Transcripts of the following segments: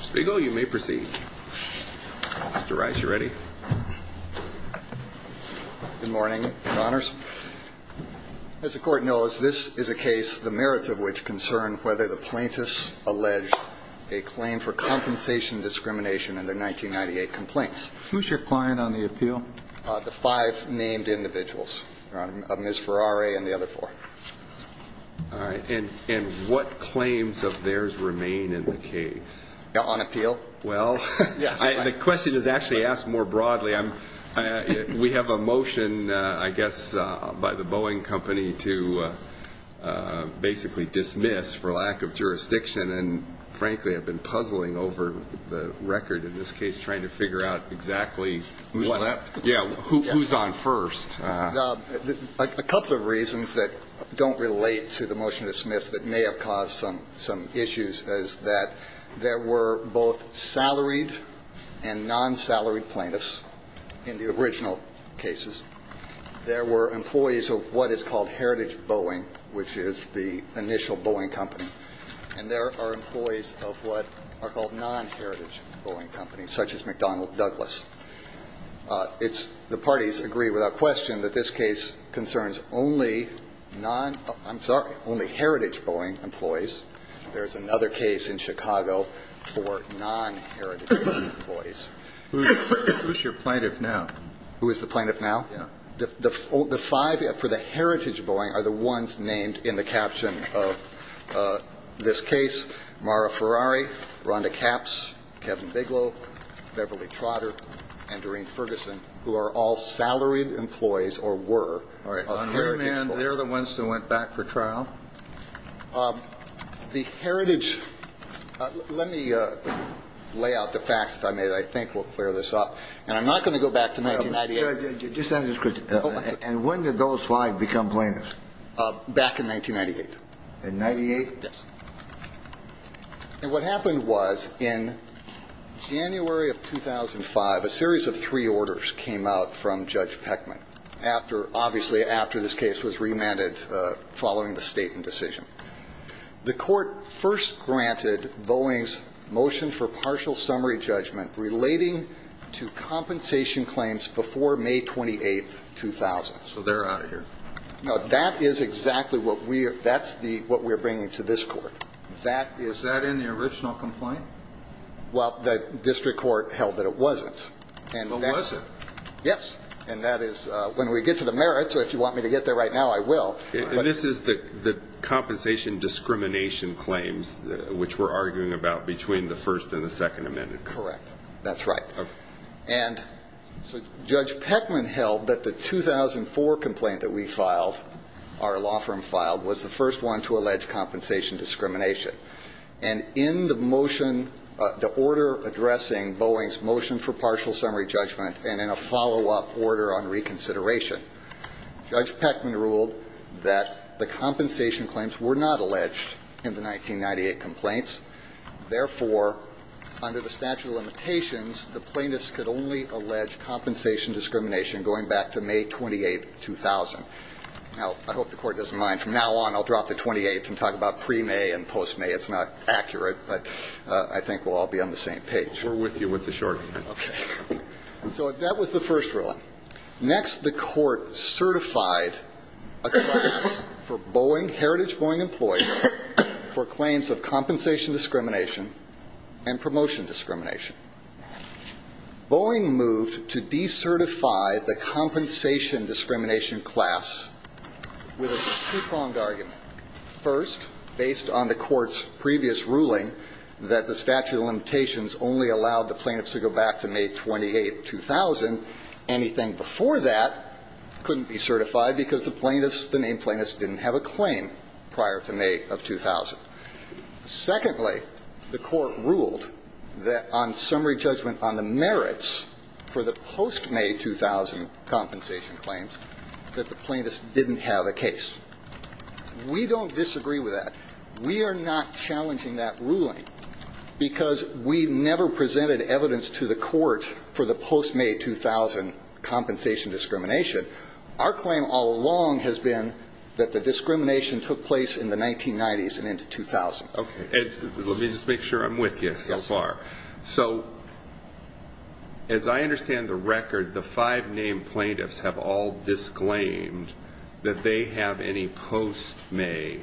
Spiegel, you may proceed. Mr. Rice, you ready? Good morning, your honors. As the court knows, this is a case the merits of which concern whether the plaintiffs allege a claim for compensation discrimination in their 1998 complaints. Who's your client on the appeal? The five named individuals, your honor, of Ms. Well, the question is actually asked more broadly. We have a motion, I guess, by the Boeing Company to basically dismiss for lack of jurisdiction. And frankly, I've been puzzling over the record in this case trying to figure out exactly who's on first. A couple of reasons that don't relate to the motion to dismiss that may have caused some issues is that there were both salaried and non-salaried plaintiffs in the original cases. There were employees of what is called Heritage Boeing, which is the initial Boeing Company, and there are employees of what are called non-Heritage Boeing Companies, such as McDonnell Douglas. It's the parties agree without question that this case concerns only non-I'm sorry, only Heritage Boeing employees. There's another case in Chicago for non-Heritage Boeing employees. Who's your plaintiff now? Who is the plaintiff now? Yeah. The five for the Heritage Boeing are the ones named in the caption of this case. Mara Ferrari, Rhonda Capps, Kevin Bigelow, Beverly Trotter, and Doreen Ferguson, who are all salaried employees or were. All right. They're the ones who went back for trial. The Heritage. Let me lay out the facts. I mean, I think we'll clear this up. And I'm not going to go back to 1998. And when did those five become plaintiffs? Back in 1998. In 98? Yes. And what happened was in January of 2005, a series of three orders came out from Judge Peckman after obviously after this case was remanded following the state and decision. The court first granted Boeing's motion for partial summary judgment relating to compensation claims before May 28, 2000. So they're out of here. No, that is exactly what we are. That's the what we're bringing to this court. That is that in the original complaint? Well, the district court held that it wasn't. And was it? Yes. And that is when we get to the merits. So if you want me to get there right now, I will. This is the compensation discrimination claims which we're arguing about between the first and the second amendment. Correct. That's right. And so Judge Peckman held that the 2004 complaint that we filed, our law firm filed, was the first one to allege compensation discrimination. And in the motion, the order addressing Boeing's motion for partial summary judgment and in a follow-up order on reconsideration, Judge Peckman ruled that the compensation claims were not alleged in the 1998 complaints. Therefore, under the statute of limitations, the plaintiffs could only allege compensation discrimination going back to May 28, 2000. Now, I hope the court doesn't mind. From now on, I'll drop the 28th and talk about pre-May and post-May. It's not accurate. But I think we'll all be on the same page. We're with you with the short end. Okay. So that was the first ruling. Next, the court certified a class for Boeing, Heritage Boeing employees, for claims of compensation discrimination and promotion discrimination. Boeing moved to decertify the compensation discrimination class with a two-pronged argument. First, based on the court's previous ruling that the statute of limitations only allowed the plaintiffs to go back to May 28, 2000, anything before that couldn't be certified because the plaintiffs, the named plaintiffs, didn't have a claim prior to May of 2000. Secondly, the court ruled that on summary judgment on the merits for the post-May 2000 compensation claims that the plaintiffs didn't have a case. We don't disagree with that. We are not challenging that ruling because we never presented evidence to the court for the post-May 2000 compensation discrimination. Our claim all along has been that the discrimination took place in the 1990s and into 2000. Okay. Let me just make sure I'm with you so far. So as I understand the record, the five named plaintiffs have all disclaimed that they have any post-May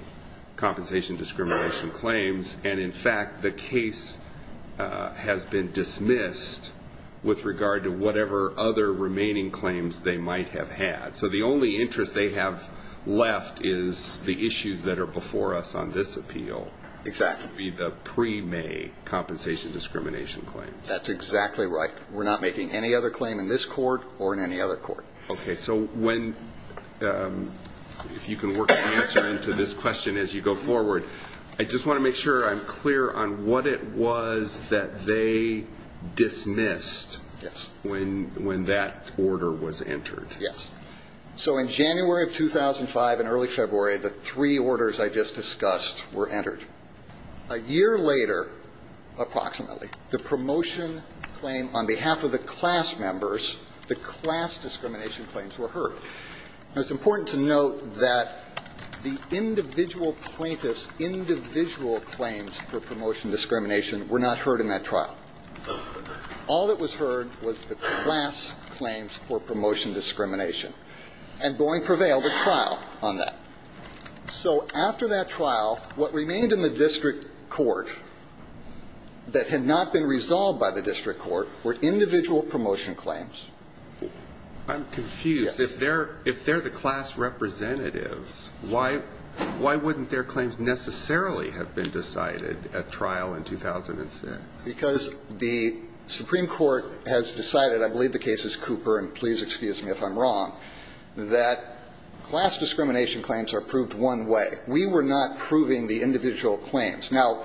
compensation discrimination claims. And in fact, the case has been dismissed with regard to whatever other remaining claims they might have had. So the only interest they have left is the issues that are before us on this appeal. Exactly. That would be the pre-May compensation discrimination claim. That's exactly right. We're not making any other claim in this court or in any other court. Okay. So if you can work an answer into this question as you go forward, I just want to make sure I'm clear on what it was that they dismissed when that order was entered. Yes. So in January of 2005 and early February, the three orders I just discussed were entered. A year later, approximately, the promotion claim on behalf of the class members, the class discrimination claims were heard. Now, it's important to note that the individual plaintiffs' individual claims for promotion discrimination were not heard in that trial. All that was heard was the class claims for promotion discrimination. And Boeing prevailed a trial on that. So after that trial, what remained in the district court that had not been resolved by the district court were individual promotion claims. I'm confused. Yes. If they're the class representatives, why wouldn't their claims necessarily have been decided at trial in 2006? Because the Supreme Court has decided, I believe the case is Cooper, and please excuse me if I'm wrong, that class discrimination claims are proved one way. We were not proving the individual claims. Now,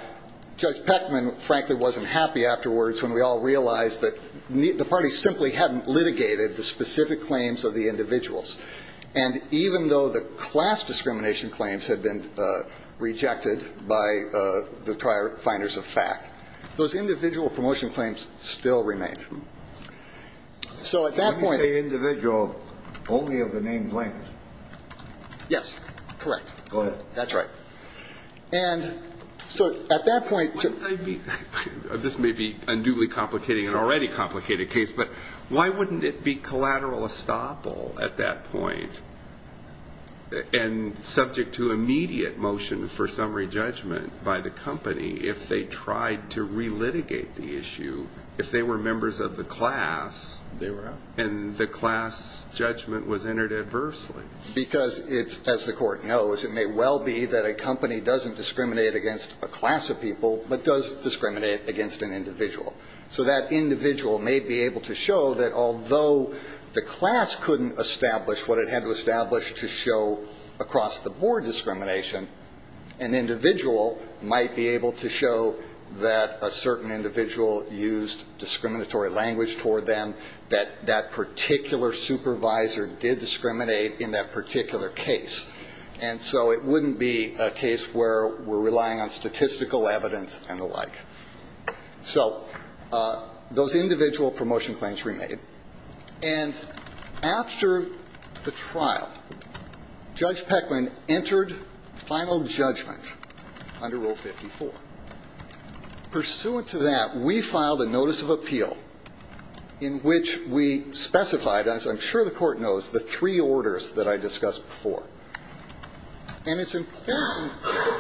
Judge Peckman, frankly, wasn't happy afterwards when we all realized that the party simply hadn't been heard by the trial finders of fact. Those individual promotion claims still remained. So at that point Can you say individual only of the name Blank? Yes. Correct. Go ahead. That's right. And so at that point This may be a newly complicated and already complicated case, but why wouldn't it be collateral estoppel at that point and subject to immediate motion for summary judgment by the company if they tried to relitigate the issue if they were members of the class and the class judgment was entered adversely? Because it's as the court knows, it may well be that a company doesn't discriminate against a class of people, but does discriminate against an individual. So that individual may be able to show that although the class couldn't establish what it had to establish to show across-the-board discrimination, an individual might be able to show that a certain individual used discriminatory language toward them, that that particular supervisor did discriminate in that particular case. And so it wouldn't be a case where we're relying on statistical evidence and the like. So those individual promotion claims remain. And after the trial, Judge Pecklin entered final judgment under Rule 54. Pursuant to that, we filed a notice of appeal in which we specified, as I'm sure the Court knows, the three orders that I discussed before. And it's important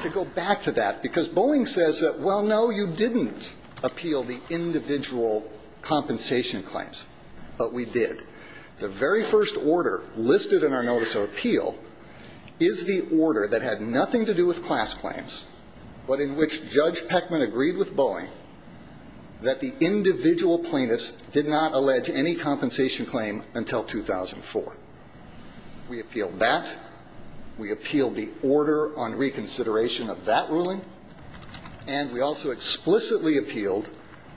to go back to that, because Boeing says that, well, no, you didn't appeal the individual compensation claims, but we did. The very first order listed in our notice of appeal is the order that had nothing to do with class claims, but in which Judge Pecklin agreed with Boeing that the individual plaintiffs did not allege any compensation claim until 2004. We appealed that. We appealed the order on reconsideration of that ruling. And we also explicitly appealed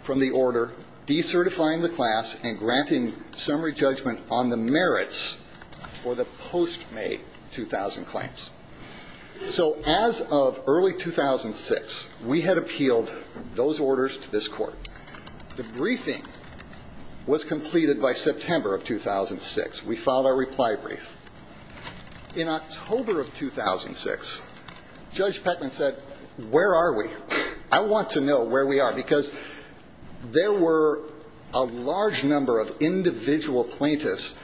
from the order decertifying the class and granting summary judgment on the merits for the post-May 2000 claims. So as of early 2006, we had appealed those orders to this Court. The briefing was completed by September of 2006. We filed our reply brief. In October of 2006, Judge Pecklin said, where are we? I want to know where we are, because there were a large number of individual plaintiffs,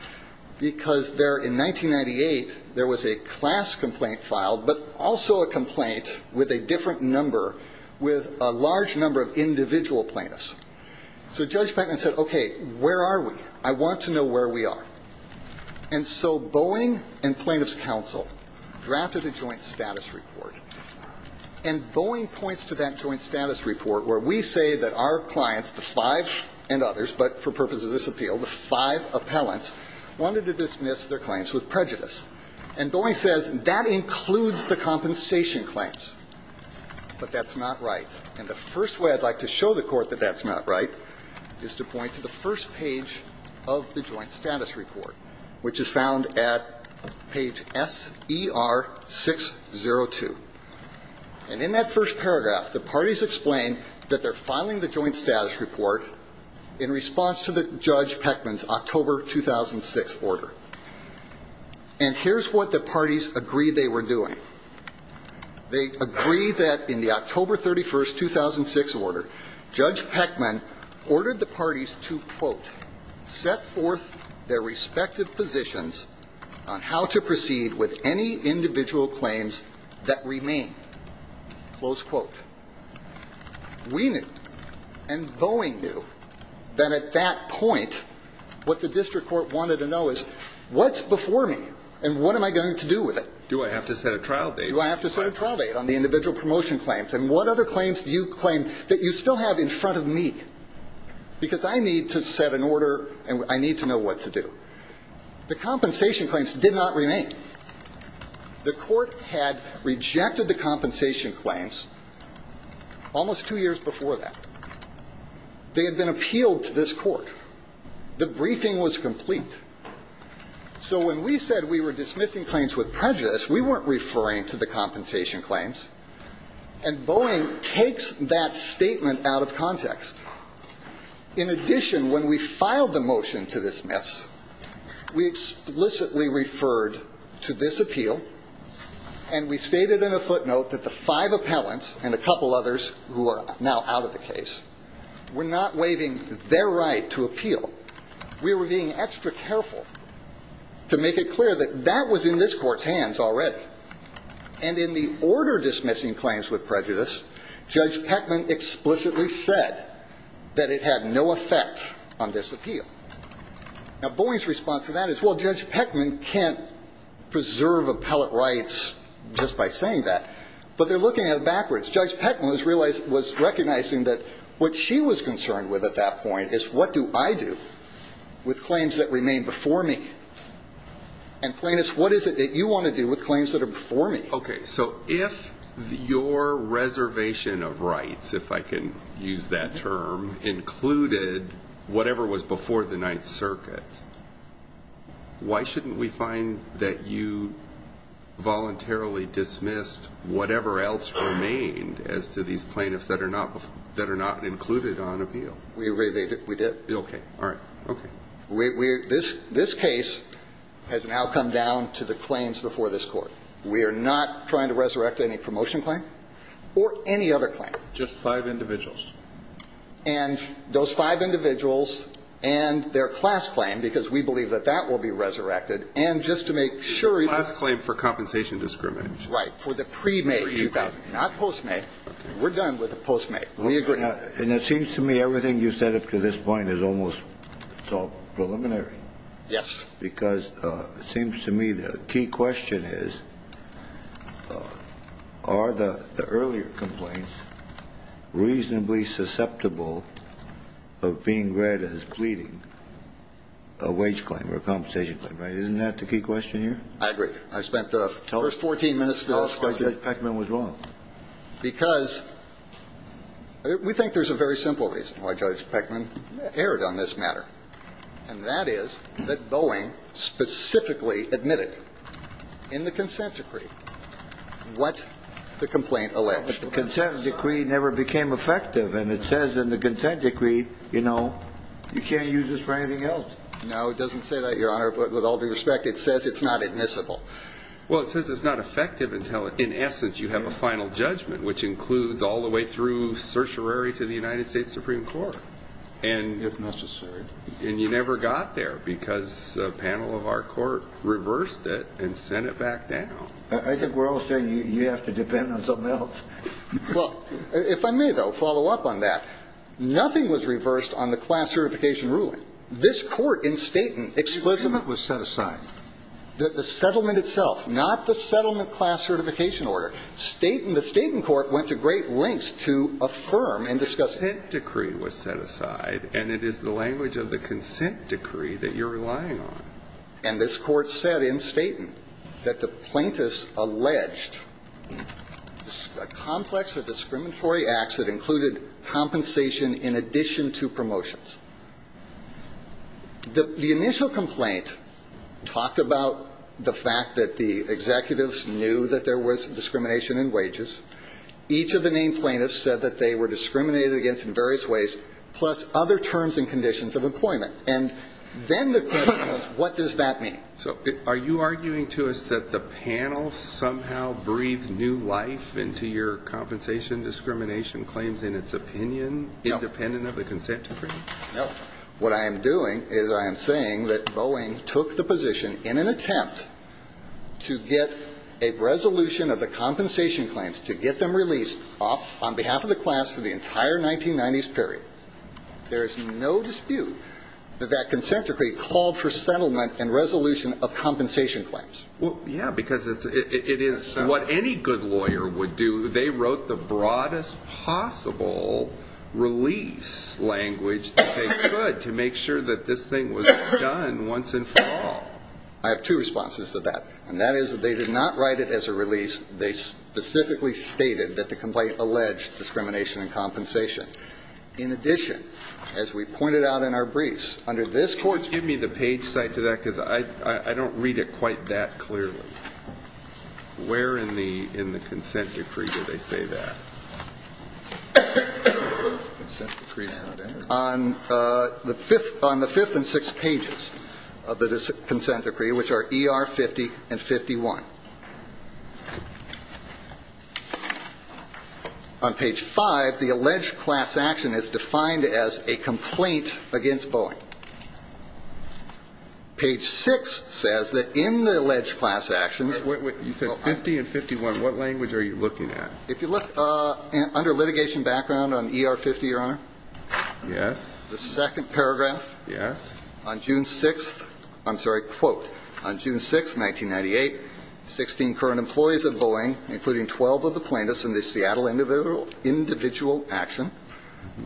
because there, in 1998, there was a class complaint filed, but also a complaint with a different number, with a large number of individual plaintiffs. So Judge Pecklin said, okay, where are we? I want to know where we are. And so Boeing and Plaintiffs' Counsel drafted a joint status report. And Boeing points to that joint status report where we say that our clients, the five and others, but for purposes of this appeal, the five appellants, wanted to dismiss their claims with prejudice. And Boeing says that includes the compensation claims. But that's not right. And the first way I'd like to show the Court that that's not right is to point to the first page of the joint status report, which is found at page SER602. And in that first paragraph, the parties explain that they're filing the joint status report in response to Judge Pecklin's October 2006 order. And here's what the parties agreed they were doing. They agreed that in the October 31st, 2006 order, Judge Pecklin ordered the parties to, quote, set forth their respective positions on how to proceed with any individual claims that remain, close quote. We knew, and Boeing knew, that at that point, what the district court wanted to know is, what's before me? And what am I going to do with it? Do I have to set a trial date? Do I have to set a trial date on the individual promotion claims? And what other claims do you claim that you still have in front of me? Because I need to set an order, and I need to know what to do. The compensation claims did not remain. The court had rejected the compensation claims almost two years before that. They had been appealed to this court. The briefing was complete. So when we said we were dismissing claims with prejudice, we weren't referring to the compensation claims. And Boeing takes that statement out of context. In addition, when we filed the motion to dismiss, we explicitly referred to this appeal, and we stated in a footnote that the five appellants, and a couple others who are now out of the case, were not waiving their right to appeal. We were being extra careful to make it clear that that was in this court's hands already. And in the order dismissing claims with prejudice, Judge Pecklin explicitly said that it had no effect on this case. Now, Boeing's response to that is, well, Judge Pecklin can't preserve appellate rights just by saying that. But they're looking at it backwards. Judge Pecklin was recognizing that what she was concerned with at that point is what do I do with claims that remain before me? And plaintiffs, what is it that you want to do with claims that are before me? Okay. So if your reservation of rights, if I can use that term, included whatever was before the Ninth Circuit, why shouldn't we find that you voluntarily dismissed whatever else remained as to these plaintiffs that are not included on appeal? We did. Okay. All right. Okay. This case has now come down to the claims before this Court. We are not trying to resurrect any promotion claim or any other claim. Just five individuals. And those five individuals and their class claim, because we believe that that will be resurrected, and just to make sure The class claim for compensation discrimination. Right. For the pre-May 2000. Not post-May. We're done with the post-May. We agree. And it seems to me everything you said up to this point is almost so preliminary. Yes. Because it seems to me the key question is, are the earlier complaints reasonably susceptible of being read as pleading a wage claim or a compensation claim? Isn't that the key question here? I agree. I spent the first 14 minutes discussing it. Why do you think Peckman was wrong? Because we think there's a very simple reason why Judge Peckman erred on this matter, and that is that Boeing specifically admitted in the consent decree what the complaint alleged. But the consent decree never became effective, and it says in the consent decree, you know, you can't use this for anything else. No, it doesn't say that, Your Honor. But with all due respect, it says it's not admissible. Well, it says it's not effective until, in essence, you have a final judgment, which includes all the way through certiorari to the United States Supreme Court. If necessary. And you never got there because a panel of our court reversed it and sent it back down. I think we're all saying you have to depend on something else. Well, if I may, though, follow up on that. Nothing was reversed on the class certification ruling. This court in Staten explicitly – The agreement was set aside. The settlement itself, not the settlement class certification order. The Staten court went to great lengths to affirm and discuss it. The consent decree was set aside, and it is the language of the consent decree that you're relying on. And this court said in Staten that the plaintiffs alleged a complex of discriminatory acts that included compensation in addition to promotions. The initial complaint talked about the fact that the executives knew that there was discrimination in wages. Each of the named plaintiffs said that they were discriminated against in various ways, plus other terms and conditions of employment. And then the question was, what does that mean? So are you arguing to us that the panel somehow breathed new life into your compensation discrimination claims in its opinion, independent of the consent decree? No. What I am doing is I am saying that Boeing took the position in an attempt to get a resolution of the compensation claims to get them released on behalf of the class for the entire 1990s period. There is no dispute that that consent decree called for settlement and resolution of compensation claims. Well, yeah, because it is what any good lawyer would do. They wrote the broadest possible release language that they could to make sure that this thing was done once and for all. I have two responses to that, and that is that they did not write it as a release. They specifically stated that the complaint alleged discrimination and compensation. In addition, as we pointed out in our briefs, under this court's ---- Excuse me. The page cite to that, because I don't read it quite that clearly. Where in the consent decree do they say that? On the fifth and sixth pages of the consent decree, which are ER 50 and 51. On page five, the alleged class action is defined as a complaint against Boeing. Page six says that in the alleged class actions. You said 50 and 51. What language are you looking at? If you look under litigation background on ER 50, Your Honor. Yes. The second paragraph. Yes. On June 6th. I'm sorry. Quote. On June 6th, 1998, 16 current employees of Boeing, including 12 of the plaintiffs in the Seattle individual action,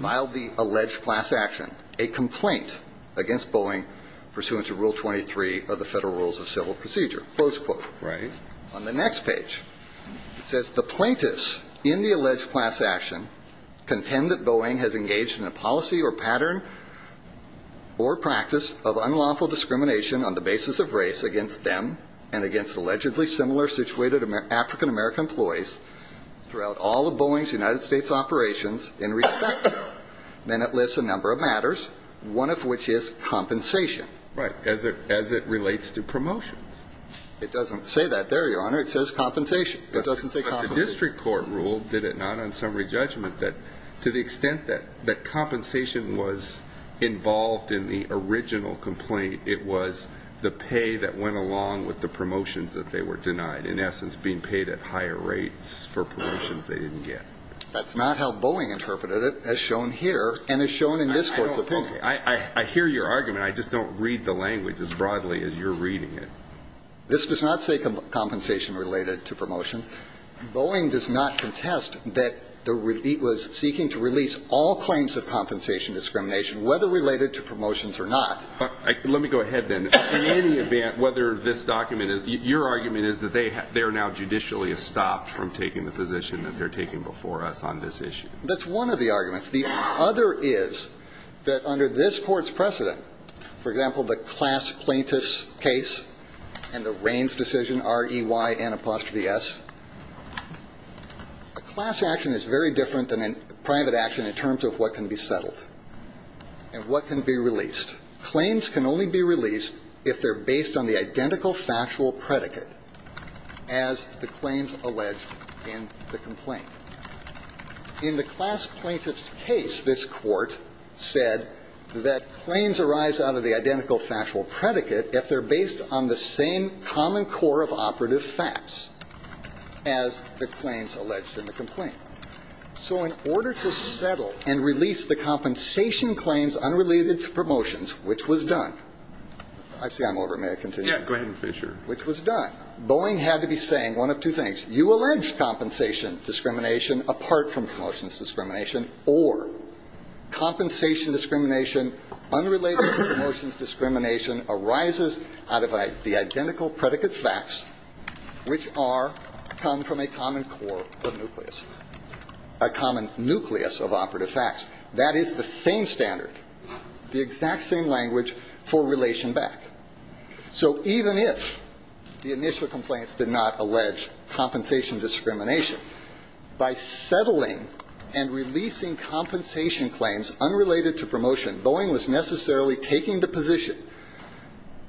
filed the alleged class action, a complaint against Boeing pursuant to Rule 23 of the Federal Rules of Civil Procedure. Close quote. Right. On the next page, it says the plaintiffs in the alleged class action contend that Boeing has engaged in a policy or pattern or practice of unlawful discrimination on the basis of race against them and against allegedly similar situated African-American employees throughout all of Boeing's United States operations in respect to. Then it lists a number of matters, one of which is compensation. Right. As it relates to promotions. It doesn't say that there, Your Honor. It says compensation. It doesn't say compensation. But the district court ruled, did it not, on summary judgment, that to the extent that compensation was involved in the original complaint, it was the pay that went along with the promotions that they were denied, in essence being paid at higher rates for promotions they didn't get. That's not how Boeing interpreted it, as shown here and as shown in this court's opinion. I hear your argument. I just don't read the language as broadly as you're reading it. This does not say compensation related to promotions. Boeing does not contest that it was seeking to release all claims of compensation discrimination, whether related to promotions or not. Let me go ahead, then. In any event, whether this document, your argument is that they are now judicially stopped from taking the position that they're taking before us on this issue. That's one of the arguments. The other is that under this court's precedent, for example, the class plaintiff's case and the Raines decision, R-E-Y-N-apostrophe-S, a class action is very different than a private action in terms of what can be settled and what can be released. Claims can only be released if they're based on the identical factual predicate, as the claims alleged in the complaint. In the class plaintiff's case, this court said that claims arise out of the identical factual predicate if they're based on the same common core of operative facts, as the claims alleged in the complaint. So in order to settle and release the compensation claims unrelated to promotions, which was done. I see I'm over. May I continue? Yeah, go ahead and finish your. Which was done. Boeing had to be saying one of two things. You allege compensation discrimination apart from promotions discrimination, or compensation discrimination unrelated to promotions discrimination arises out of the identical predicate facts, which are, come from a common core of nucleus, a common nucleus of operative facts. That is the same standard, the exact same language for relation back. So even if the initial complaints did not allege compensation discrimination, by settling and releasing compensation claims unrelated to promotion, Boeing was necessarily taking the position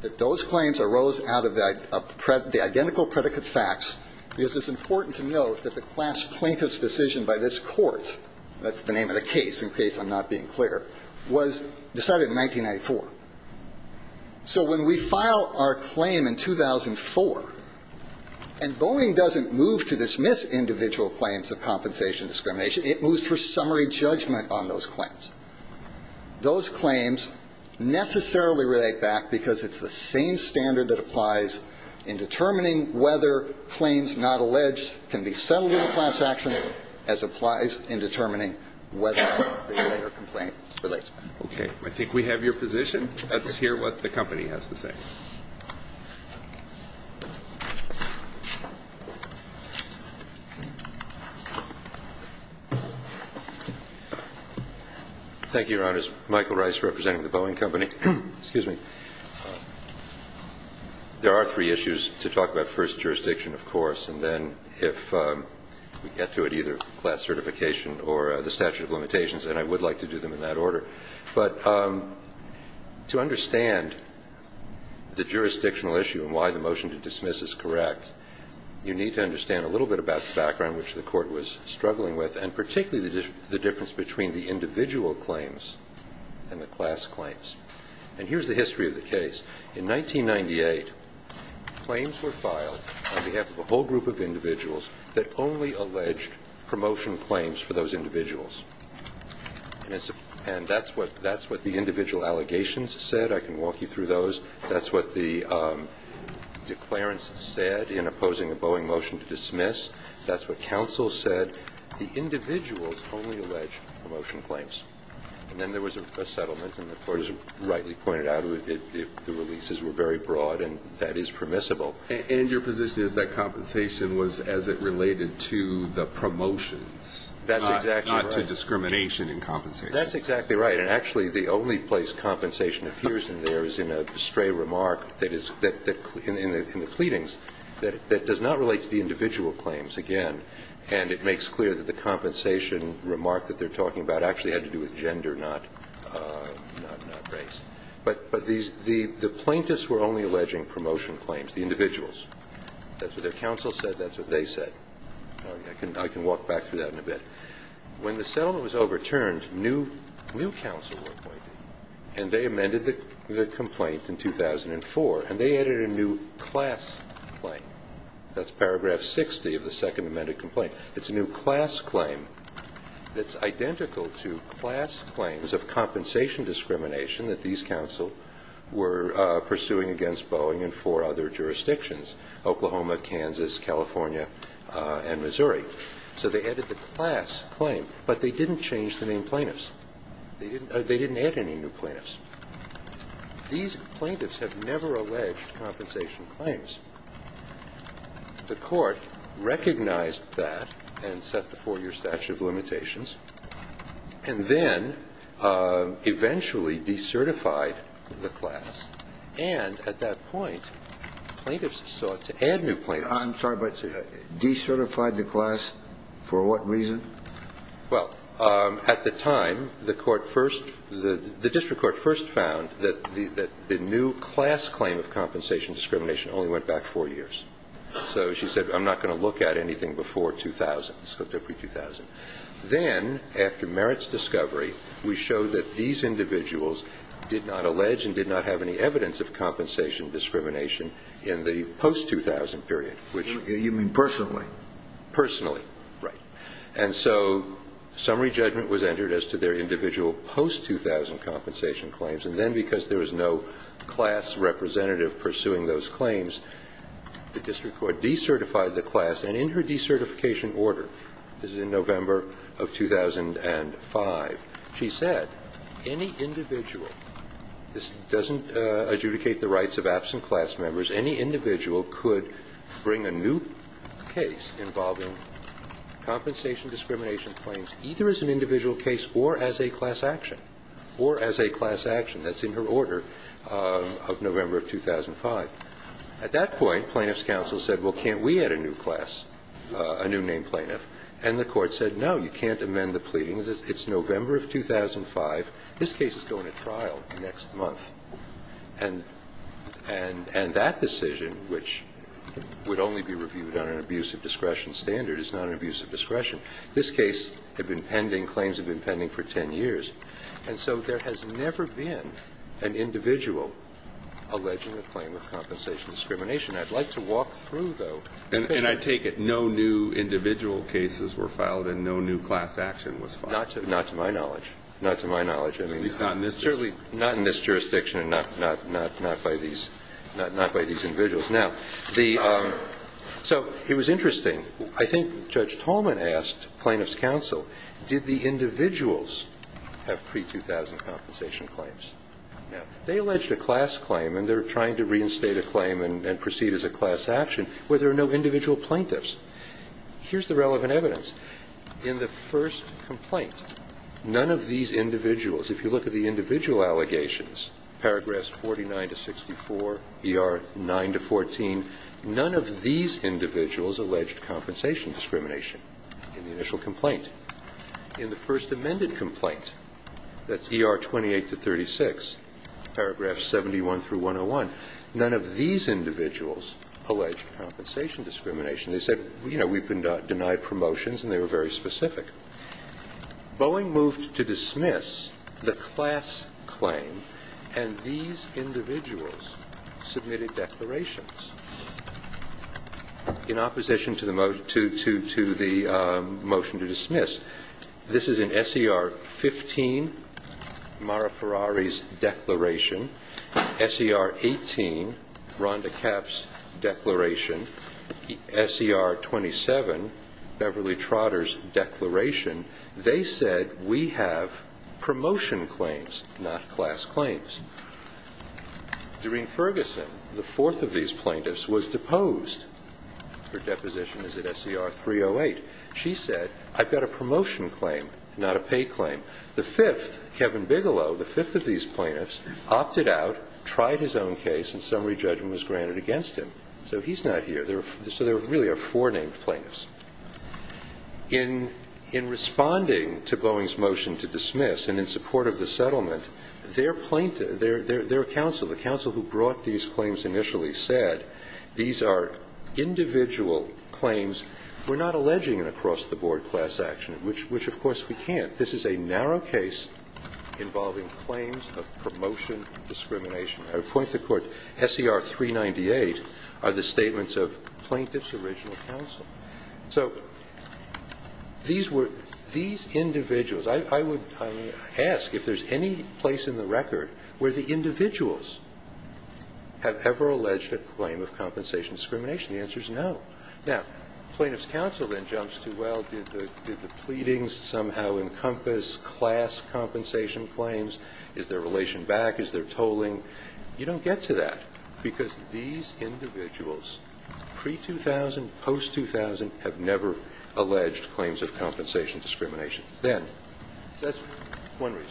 that those claims arose out of the identical predicate facts. Because it's important to note that the class plaintiff's decision by this court, that's the name of the case in case I'm not being clear, was decided in 1994. So when we file our claim in 2004, and Boeing doesn't move to dismiss individuals claims of compensation discrimination, it moves for summary judgment on those claims. Those claims necessarily relate back because it's the same standard that applies in determining whether claims not alleged can be settled in a class action as applies in determining whether the complaint relates back. Okay. I think we have your position. Let's hear what the company has to say. Thank you, Your Honors. Michael Rice representing the Boeing Company. Excuse me. There are three issues to talk about. First, jurisdiction, of course. And then if we get to it, either class certification or the statute of limitations, and I would like to do them in that order. But to understand the nature of the claim, the jurisdictional issue and why the motion to dismiss is correct, you need to understand a little bit about the background which the court was struggling with and particularly the difference between the individual claims and the class claims. And here's the history of the case. In 1998, claims were filed on behalf of a whole group of individuals that only alleged promotion claims for those individuals. And that's what the individual allegations said. I can walk you through those. That's what the declarants said in opposing the Boeing motion to dismiss. That's what counsel said. The individuals only alleged promotion claims. And then there was a settlement and the court has rightly pointed out the releases were very broad and that is permissible. And your position is that compensation was as it related to the promotions. That's exactly right. Not to discrimination in compensation. That's exactly right. And actually the only place compensation appears in there is in a stray remark that is in the pleadings that does not relate to the individual claims, again, and it makes clear that the compensation remark that they're talking about actually had to do with gender, not race. But the plaintiffs were only alleging promotion claims, the individuals. That's what their counsel said. That's what they said. I can walk back through that in a bit. When the settlement was overturned, new counsel were appointed and they amended the complaint in 2004 and they added a new class claim. That's paragraph 60 of the second amended complaint. It's a new class claim that's identical to class claims of compensation discrimination that these counsels were pursuing against Boeing and for other jurisdictions, Oklahoma, Kansas, California, and Missouri. So they added the class claim, but they didn't change the name plaintiffs. They didn't add any new plaintiffs. These plaintiffs have never alleged compensation claims. The court recognized that and set the four-year statute of limitations and then eventually decertified the class, I'm sorry, but decertified the class for what reason? Well, at the time, the court first, the district court first found that the new class claim of compensation discrimination only went back four years. So she said, I'm not going to look at anything before 2000, so it took me 2000. Then after Merritt's discovery, we showed that these individuals did not allege and did not have any evidence of compensation discrimination in the post-2000 period, which. You mean personally? Personally, right. And so summary judgment was entered as to their individual post-2000 compensation claims, and then because there was no class representative pursuing those claims, the district court decertified the class, and in her decertification order, this is in November of 2005, she said any individual, this doesn't adjudicate the rights of absent class members, any individual could bring a new case involving compensation discrimination claims either as an individual case or as a class action, or as a class action. That's in her order of November of 2005. At that point, Plaintiff's counsel said, well, can't we add a new class, a new name plaintiff, and the court said, no, you can't amend the pleadings. It's November of 2005. This case is going to trial next month. And that decision, which would only be reviewed on an abuse of discretion standard, is not an abuse of discretion. This case had been pending, claims had been pending for 10 years, and so there has never been an individual alleging a claim of compensation discrimination. I'd like to walk through, though. And I take it no new individual cases were filed and no new class action was filed? Not to my knowledge. Not to my knowledge. At least not in this jurisdiction. Not by these individuals. Now, the so it was interesting. I think Judge Tolman asked Plaintiff's counsel, did the individuals have pre-2000 compensation claims? Now, they alleged a class claim and they're trying to reinstate a claim and proceed as a class action where there are no individual plaintiffs. Here's the relevant evidence. In the first complaint, none of these individuals, if you look at the individual allegations, paragraphs 49 to 64, ER 9 to 14, none of these individuals alleged compensation discrimination in the initial complaint. In the first amended complaint, that's ER 28 to 36, paragraphs 71 through 101, none of these individuals alleged compensation discrimination. They said, you know, we've been denied promotions and they were very specific. Boeing moved to dismiss the class claim and these individuals submitted declarations. In opposition to the motion to dismiss, this is in SER 15, Mara Ferrari's declaration, SER 18, Rhonda Kaff's declaration, SER 27, Beverly Trotter's declaration. They said, we have promotion claims, not class claims. Doreen Ferguson, the fourth of these plaintiffs, was deposed. Her deposition is at SER 308. She said, I've got a promotion claim, not a pay claim. The fifth, Kevin Bigelow, the fifth of these plaintiffs, opted out, tried his own case, and summary judgment was granted against him. So he's not here. So there really are four named plaintiffs. In responding to Boeing's motion to dismiss and in support of the settlement, their plaintiff, their counsel, the counsel who brought these claims initially said, these are individual claims. We're not alleging an across-the-board class action, which of course we can't. This is a narrow case involving claims of promotion discrimination. I would point to the court, SER 398 are the statements of the plaintiff's individual counsel. So these individuals, I would ask if there's any place in the record where the individuals have ever alleged a claim of compensation discrimination. The answer is no. Now, plaintiff's counsel then jumps to, well, did the pleadings somehow encompass class compensation claims? Is there relation back? Is there tolling? You don't get to that. Because these individuals, pre-2000, post-2000, have never alleged claims of compensation discrimination. Then, that's one reason.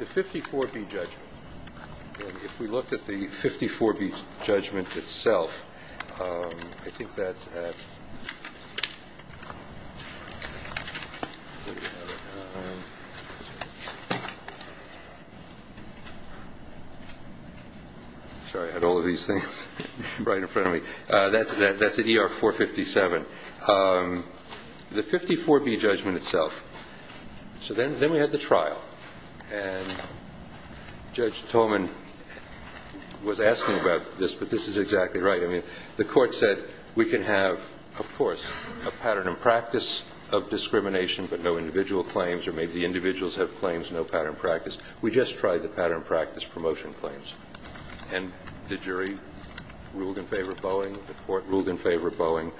The 54B judgment. If we looked at the 54B judgment itself, I think that's at Sorry, I had all of these things right in front of me. That's at ER 457. The 54B judgment itself. So then we had the trial. And Judge Tolman was asking about this, but this is exactly right. I mean, the court said, we can have, of course, a pattern and practice of discrimination but no individual claims, or maybe the individuals have claims, no pattern practice. We just tried the pattern and practice promotion claims. And the jury ruled in favor of Boeing. The court ruled in favor of Boeing.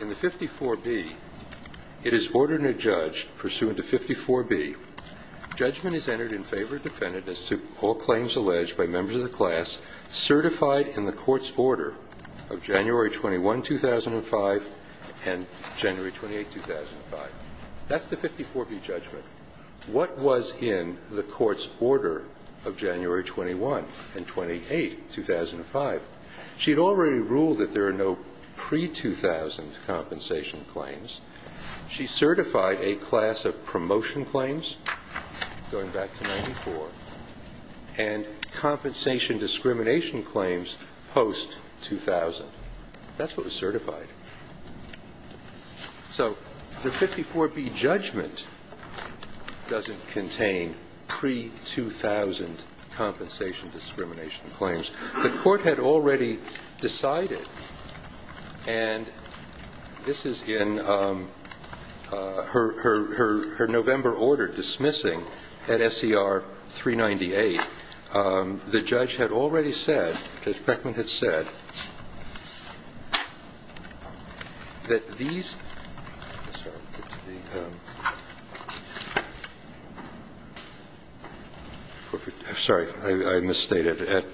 In the 54B, it is ordered in a judge, pursuant to 54B, judgment is entered in favor of defendants to all claims alleged by members of the class certified in the court's order of January 21, 2005 and January 28, 2005. That's the 54B judgment. What was in the court's order of January 21 and 28, 2005? She had already ruled that there are no pre-2000 compensation claims. She certified a class of promotion claims, going back to 94, and compensation discrimination claims post-2000. That's what was certified. So the 54B judgment doesn't contain pre-2000 compensation discrimination claims. The court had already decided, and this is in her November order dismissing at SCR 398. The judge had already said, Judge Beckman had said, that there are no pre-2000 compensation claims. The court had already decided that these ---- Sorry, I misstated.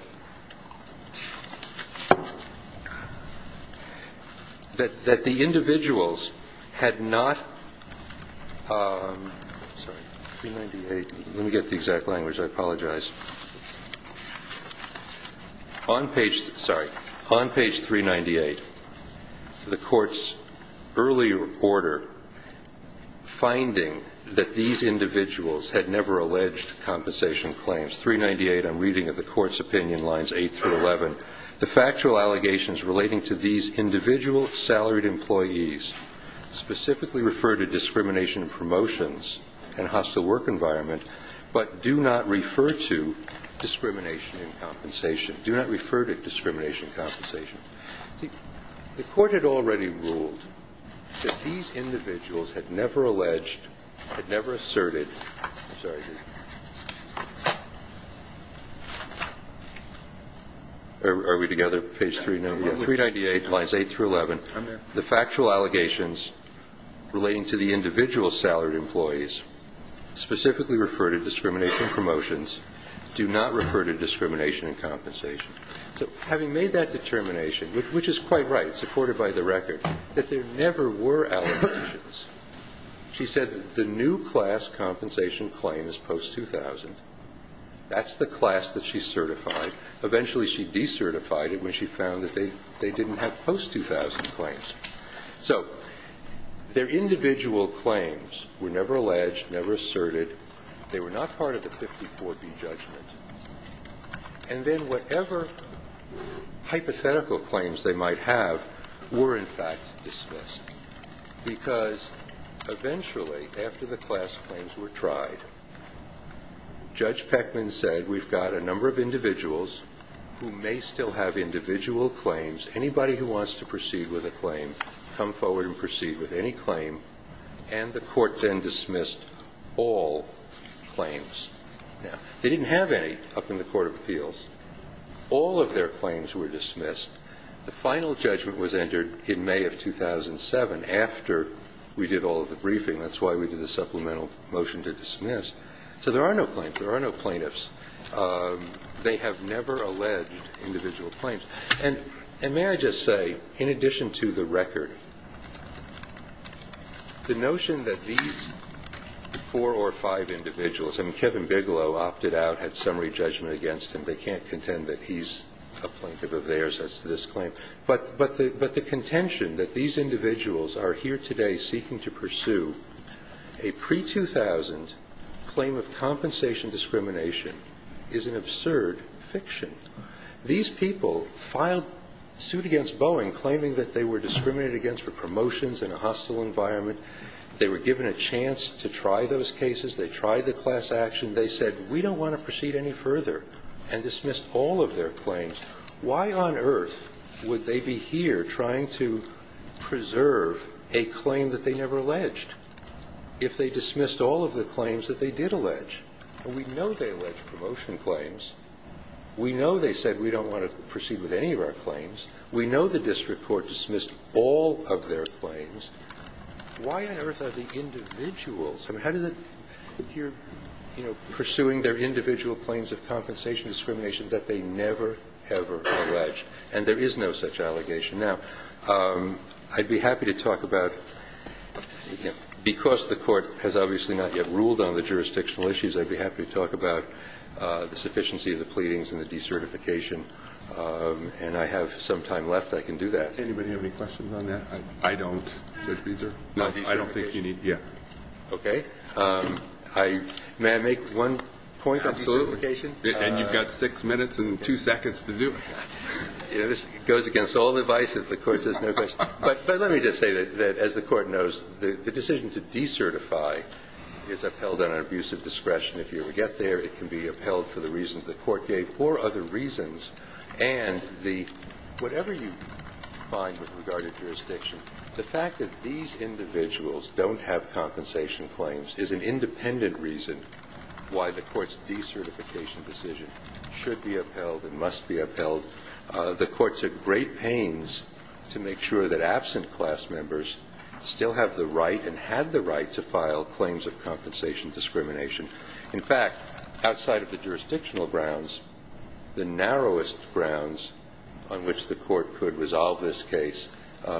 That the individuals had not ---- let me get the exact language, I apologize. On page 398, the court's early order finding that these individuals had never alleged compensation claims, 398 on reading of the court's opinion lines 8 through 11, the factual allegations relating to these individual salaried employees specifically refer to discrimination promotions and hostile work environment but do not refer to discrimination in compensation. Do not refer to discrimination in compensation. The court had already ruled that these individuals had never alleged, had never asserted ---- I'm sorry. Are we together? Page 398, lines 8 through 11. The factual allegations relating to the individual salaried employees specifically refer to discrimination promotions, do not refer to discrimination in compensation. So having made that determination, which is quite right, supported by the record, that there never were allegations, she said that the new class compensation claim is post-2000. That's the class that she certified. Eventually she decertified it when she found that they didn't have post-2000 claims. So their individual claims were never alleged, never asserted. They were not part of the 54B judgment. And then whatever hypothetical claims they might have were in fact dismissed because eventually after the class claims were tried, Judge Peckman said we've got a number of individuals who may still have individual claims. Anybody who wants to proceed with a claim, come forward and proceed with any claim. And the court then dismissed all claims. Now, they didn't have any up in the court of appeals. All of their claims were dismissed. The final judgment was entered in May of 2007 after we did all of the briefing. That's why we did the supplemental motion to dismiss. So there are no claims. There are no plaintiffs. They have never alleged individual claims. And may I just say, in addition to the record, the notion that these four or five individuals, I mean Kevin Bigelow opted out, had summary judgment against him. They can't contend that he's a plaintiff of theirs as to this claim. But the contention that these individuals are here today seeking to pursue a pre-2000 claim of compensation discrimination is an absurd fiction. These people filed suit against Boeing claiming that they were discriminated against for promotions in a hostile environment. They were given a chance to try those cases. They tried the class action. They said we don't want to proceed any further and dismissed all of their claims. Why on earth would they be here trying to preserve a claim that they never alleged if they dismissed all of the claims that they did allege? And we know they allege promotion claims. We know they said we don't want to proceed with any of our claims. We know the district court dismissed all of their claims. Why on earth are the individuals, I mean, how does it, you know, pursuing their individual claims of compensation discrimination that they never, ever alleged? And there is no such allegation now. I'd be happy to talk about, because the Court has obviously not yet ruled on the jurisdictional issues, I'd be happy to talk about the sufficiency of the pleadings and the decertification. And I have some time left. I can do that. Do anybody have any questions on that? I don't, Judge Beezer. I don't think you need. Okay. May I make one point on decertification? Absolutely. And you've got 6 minutes and 2 seconds to do it. It goes against all advice if the Court says no questions. But let me just say that, as the Court knows, the decision to decertify is upheld on an abuse of discretion. If you ever get there, it can be upheld for the reasons the Court gave or other reasons, and the – whatever you find with regard to jurisdiction, the fact that these individuals don't have compensation claims is an independent reason why the Court's decertification decision should be upheld, it must be upheld. The Court took great pains to make sure that absent class members still have the right and had the right to file claims of compensation discrimination. In fact, outside of the jurisdictional grounds, the narrowest grounds on which the Court could resolve this case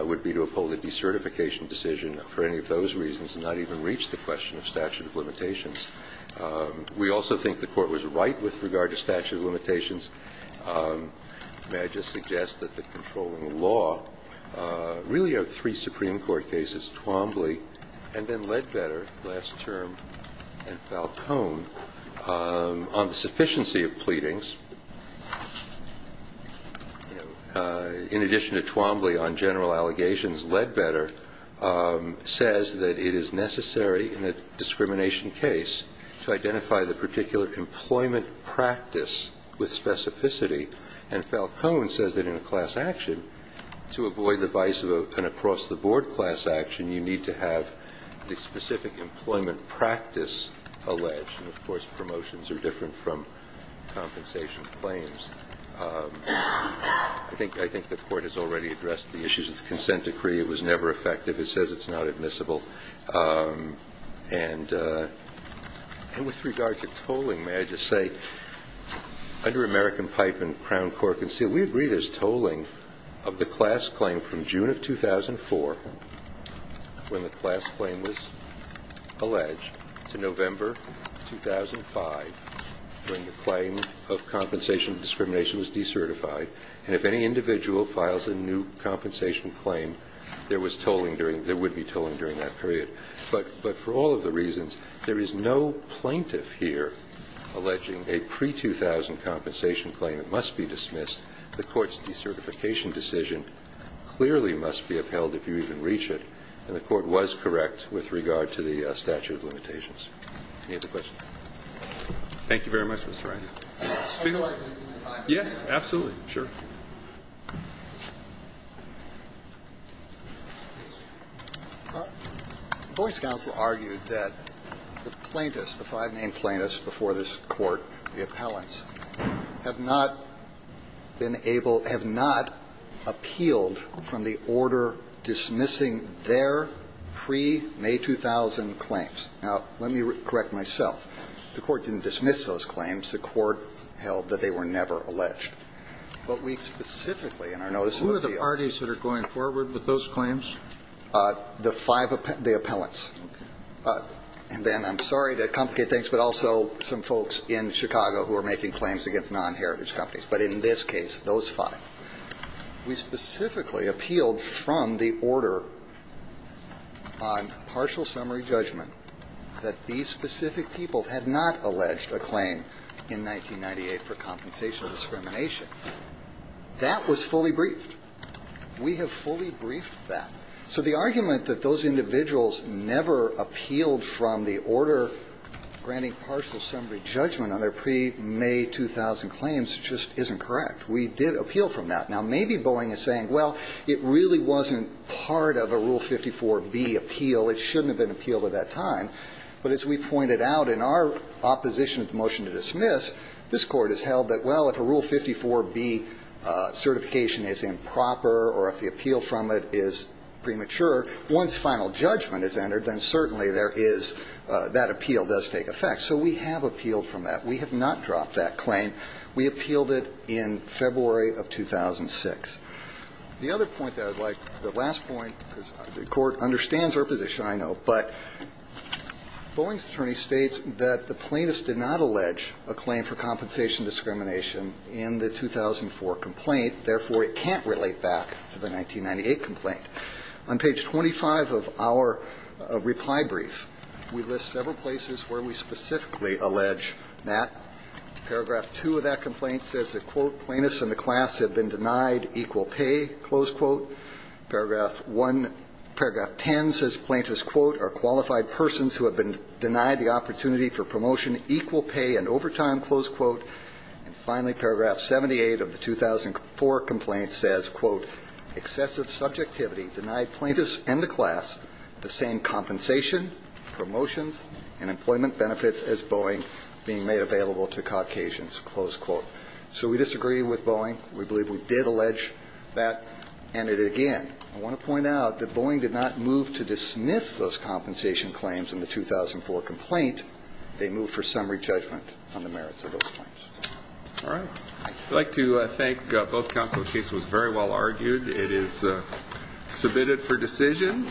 would be to uphold the decertification decision for any of those reasons and not even reach the question of statute of limitations. We also think the Court was right with regard to statute of limitations. May I just suggest that the controlling law really are three Supreme Court cases, Twombly and then Ledbetter last term, and Falcone, on the sufficiency of pleadings. You know, in addition to Twombly on general allegations, Ledbetter says that it is necessary in a discrimination case to identify the particular employment practice with specificity, and Falcone says that in a class action, to avoid the vice of an across-the-board class action, you need to have the specific employment practice alleged, and of course, promotions are different from compensation claims. I think the Court has already addressed the issues of the consent decree. It was never effective. It says it's not admissible. And with regard to tolling, may I just say, under American Pipe and Crown Court Conceal, we agree there's tolling of the class claim from June of 2004, when the class claim was alleged, to November 2005, when the claim of compensation discrimination was decertified, and if any individual files a new compensation claim, there would be tolling during that period. But for all of the reasons, there is no plaintiff here alleging a pre-2000 compensation claim that must be dismissed. The Court's decertification decision clearly must be upheld if you even reach it, and the Court was correct with regard to the statute of limitations. Any other questions? Roberts. Thank you very much, Mr. Wright. Yes, absolutely. Sure. The voice counsel argued that the plaintiffs, the five-name plaintiffs before this Court, the appellants, have not been able to – have not appealed from the order dismissing their pre-May 2000 claims. Now, let me correct myself. The Court didn't dismiss those claims. The Court held that they were never alleged. But we specifically in our notice of appeal – Who are the parties that are going forward with those claims? The five – the appellants. Okay. And then I'm sorry to complicate things, but also some folks in Chicago who are making claims against non-heritage companies. But in this case, those five. We specifically appealed from the order on partial summary judgment that these specific people had not alleged a claim in 1998 for compensation of discrimination. That was fully briefed. We have fully briefed that. So the argument that those individuals never appealed from the order granting partial summary judgment on their pre-May 2000 claims just isn't correct. We did appeal from that. Now, maybe Boeing is saying, well, it really wasn't part of a Rule 54B appeal. It shouldn't have been appealed at that time. But as we pointed out, in our opposition of the motion to dismiss, this Court has held that, well, if a Rule 54B certification is improper or if the appeal from it is premature, once final judgment is entered, then certainly there is – that appeal does take effect. So we have appealed from that. We have not dropped that claim. We appealed it in February of 2006. The other point that I would like – the last point, because the Court understands our position, I know, but Boeing's attorney states that the plaintiffs did not allege a claim for compensation discrimination in the 2004 complaint, therefore it can't relate back to the 1998 complaint. On page 25 of our reply brief, we list several places where we specifically allege that. Paragraph 2 of that complaint says that, quote, plaintiffs in the class have been denied equal pay, close quote. Paragraph 1 – paragraph 10 says plaintiffs, quote, are qualified persons who have been denied the opportunity for promotion, equal pay, and overtime, close quote. And finally, paragraph 78 of the 2004 complaint says, quote, excessive subjectivity denied plaintiffs and the class the same compensation, promotions, and employment benefits as Boeing being made available to Caucasians, close quote. So we disagree with Boeing. We believe we did allege that. And again, I want to point out that Boeing did not move to dismiss those compensation claims in the 2004 complaint. They moved for summary judgment on the merits of those claims. All right. I'd like to thank both counsel. The case was very well argued. It is submitted for decision.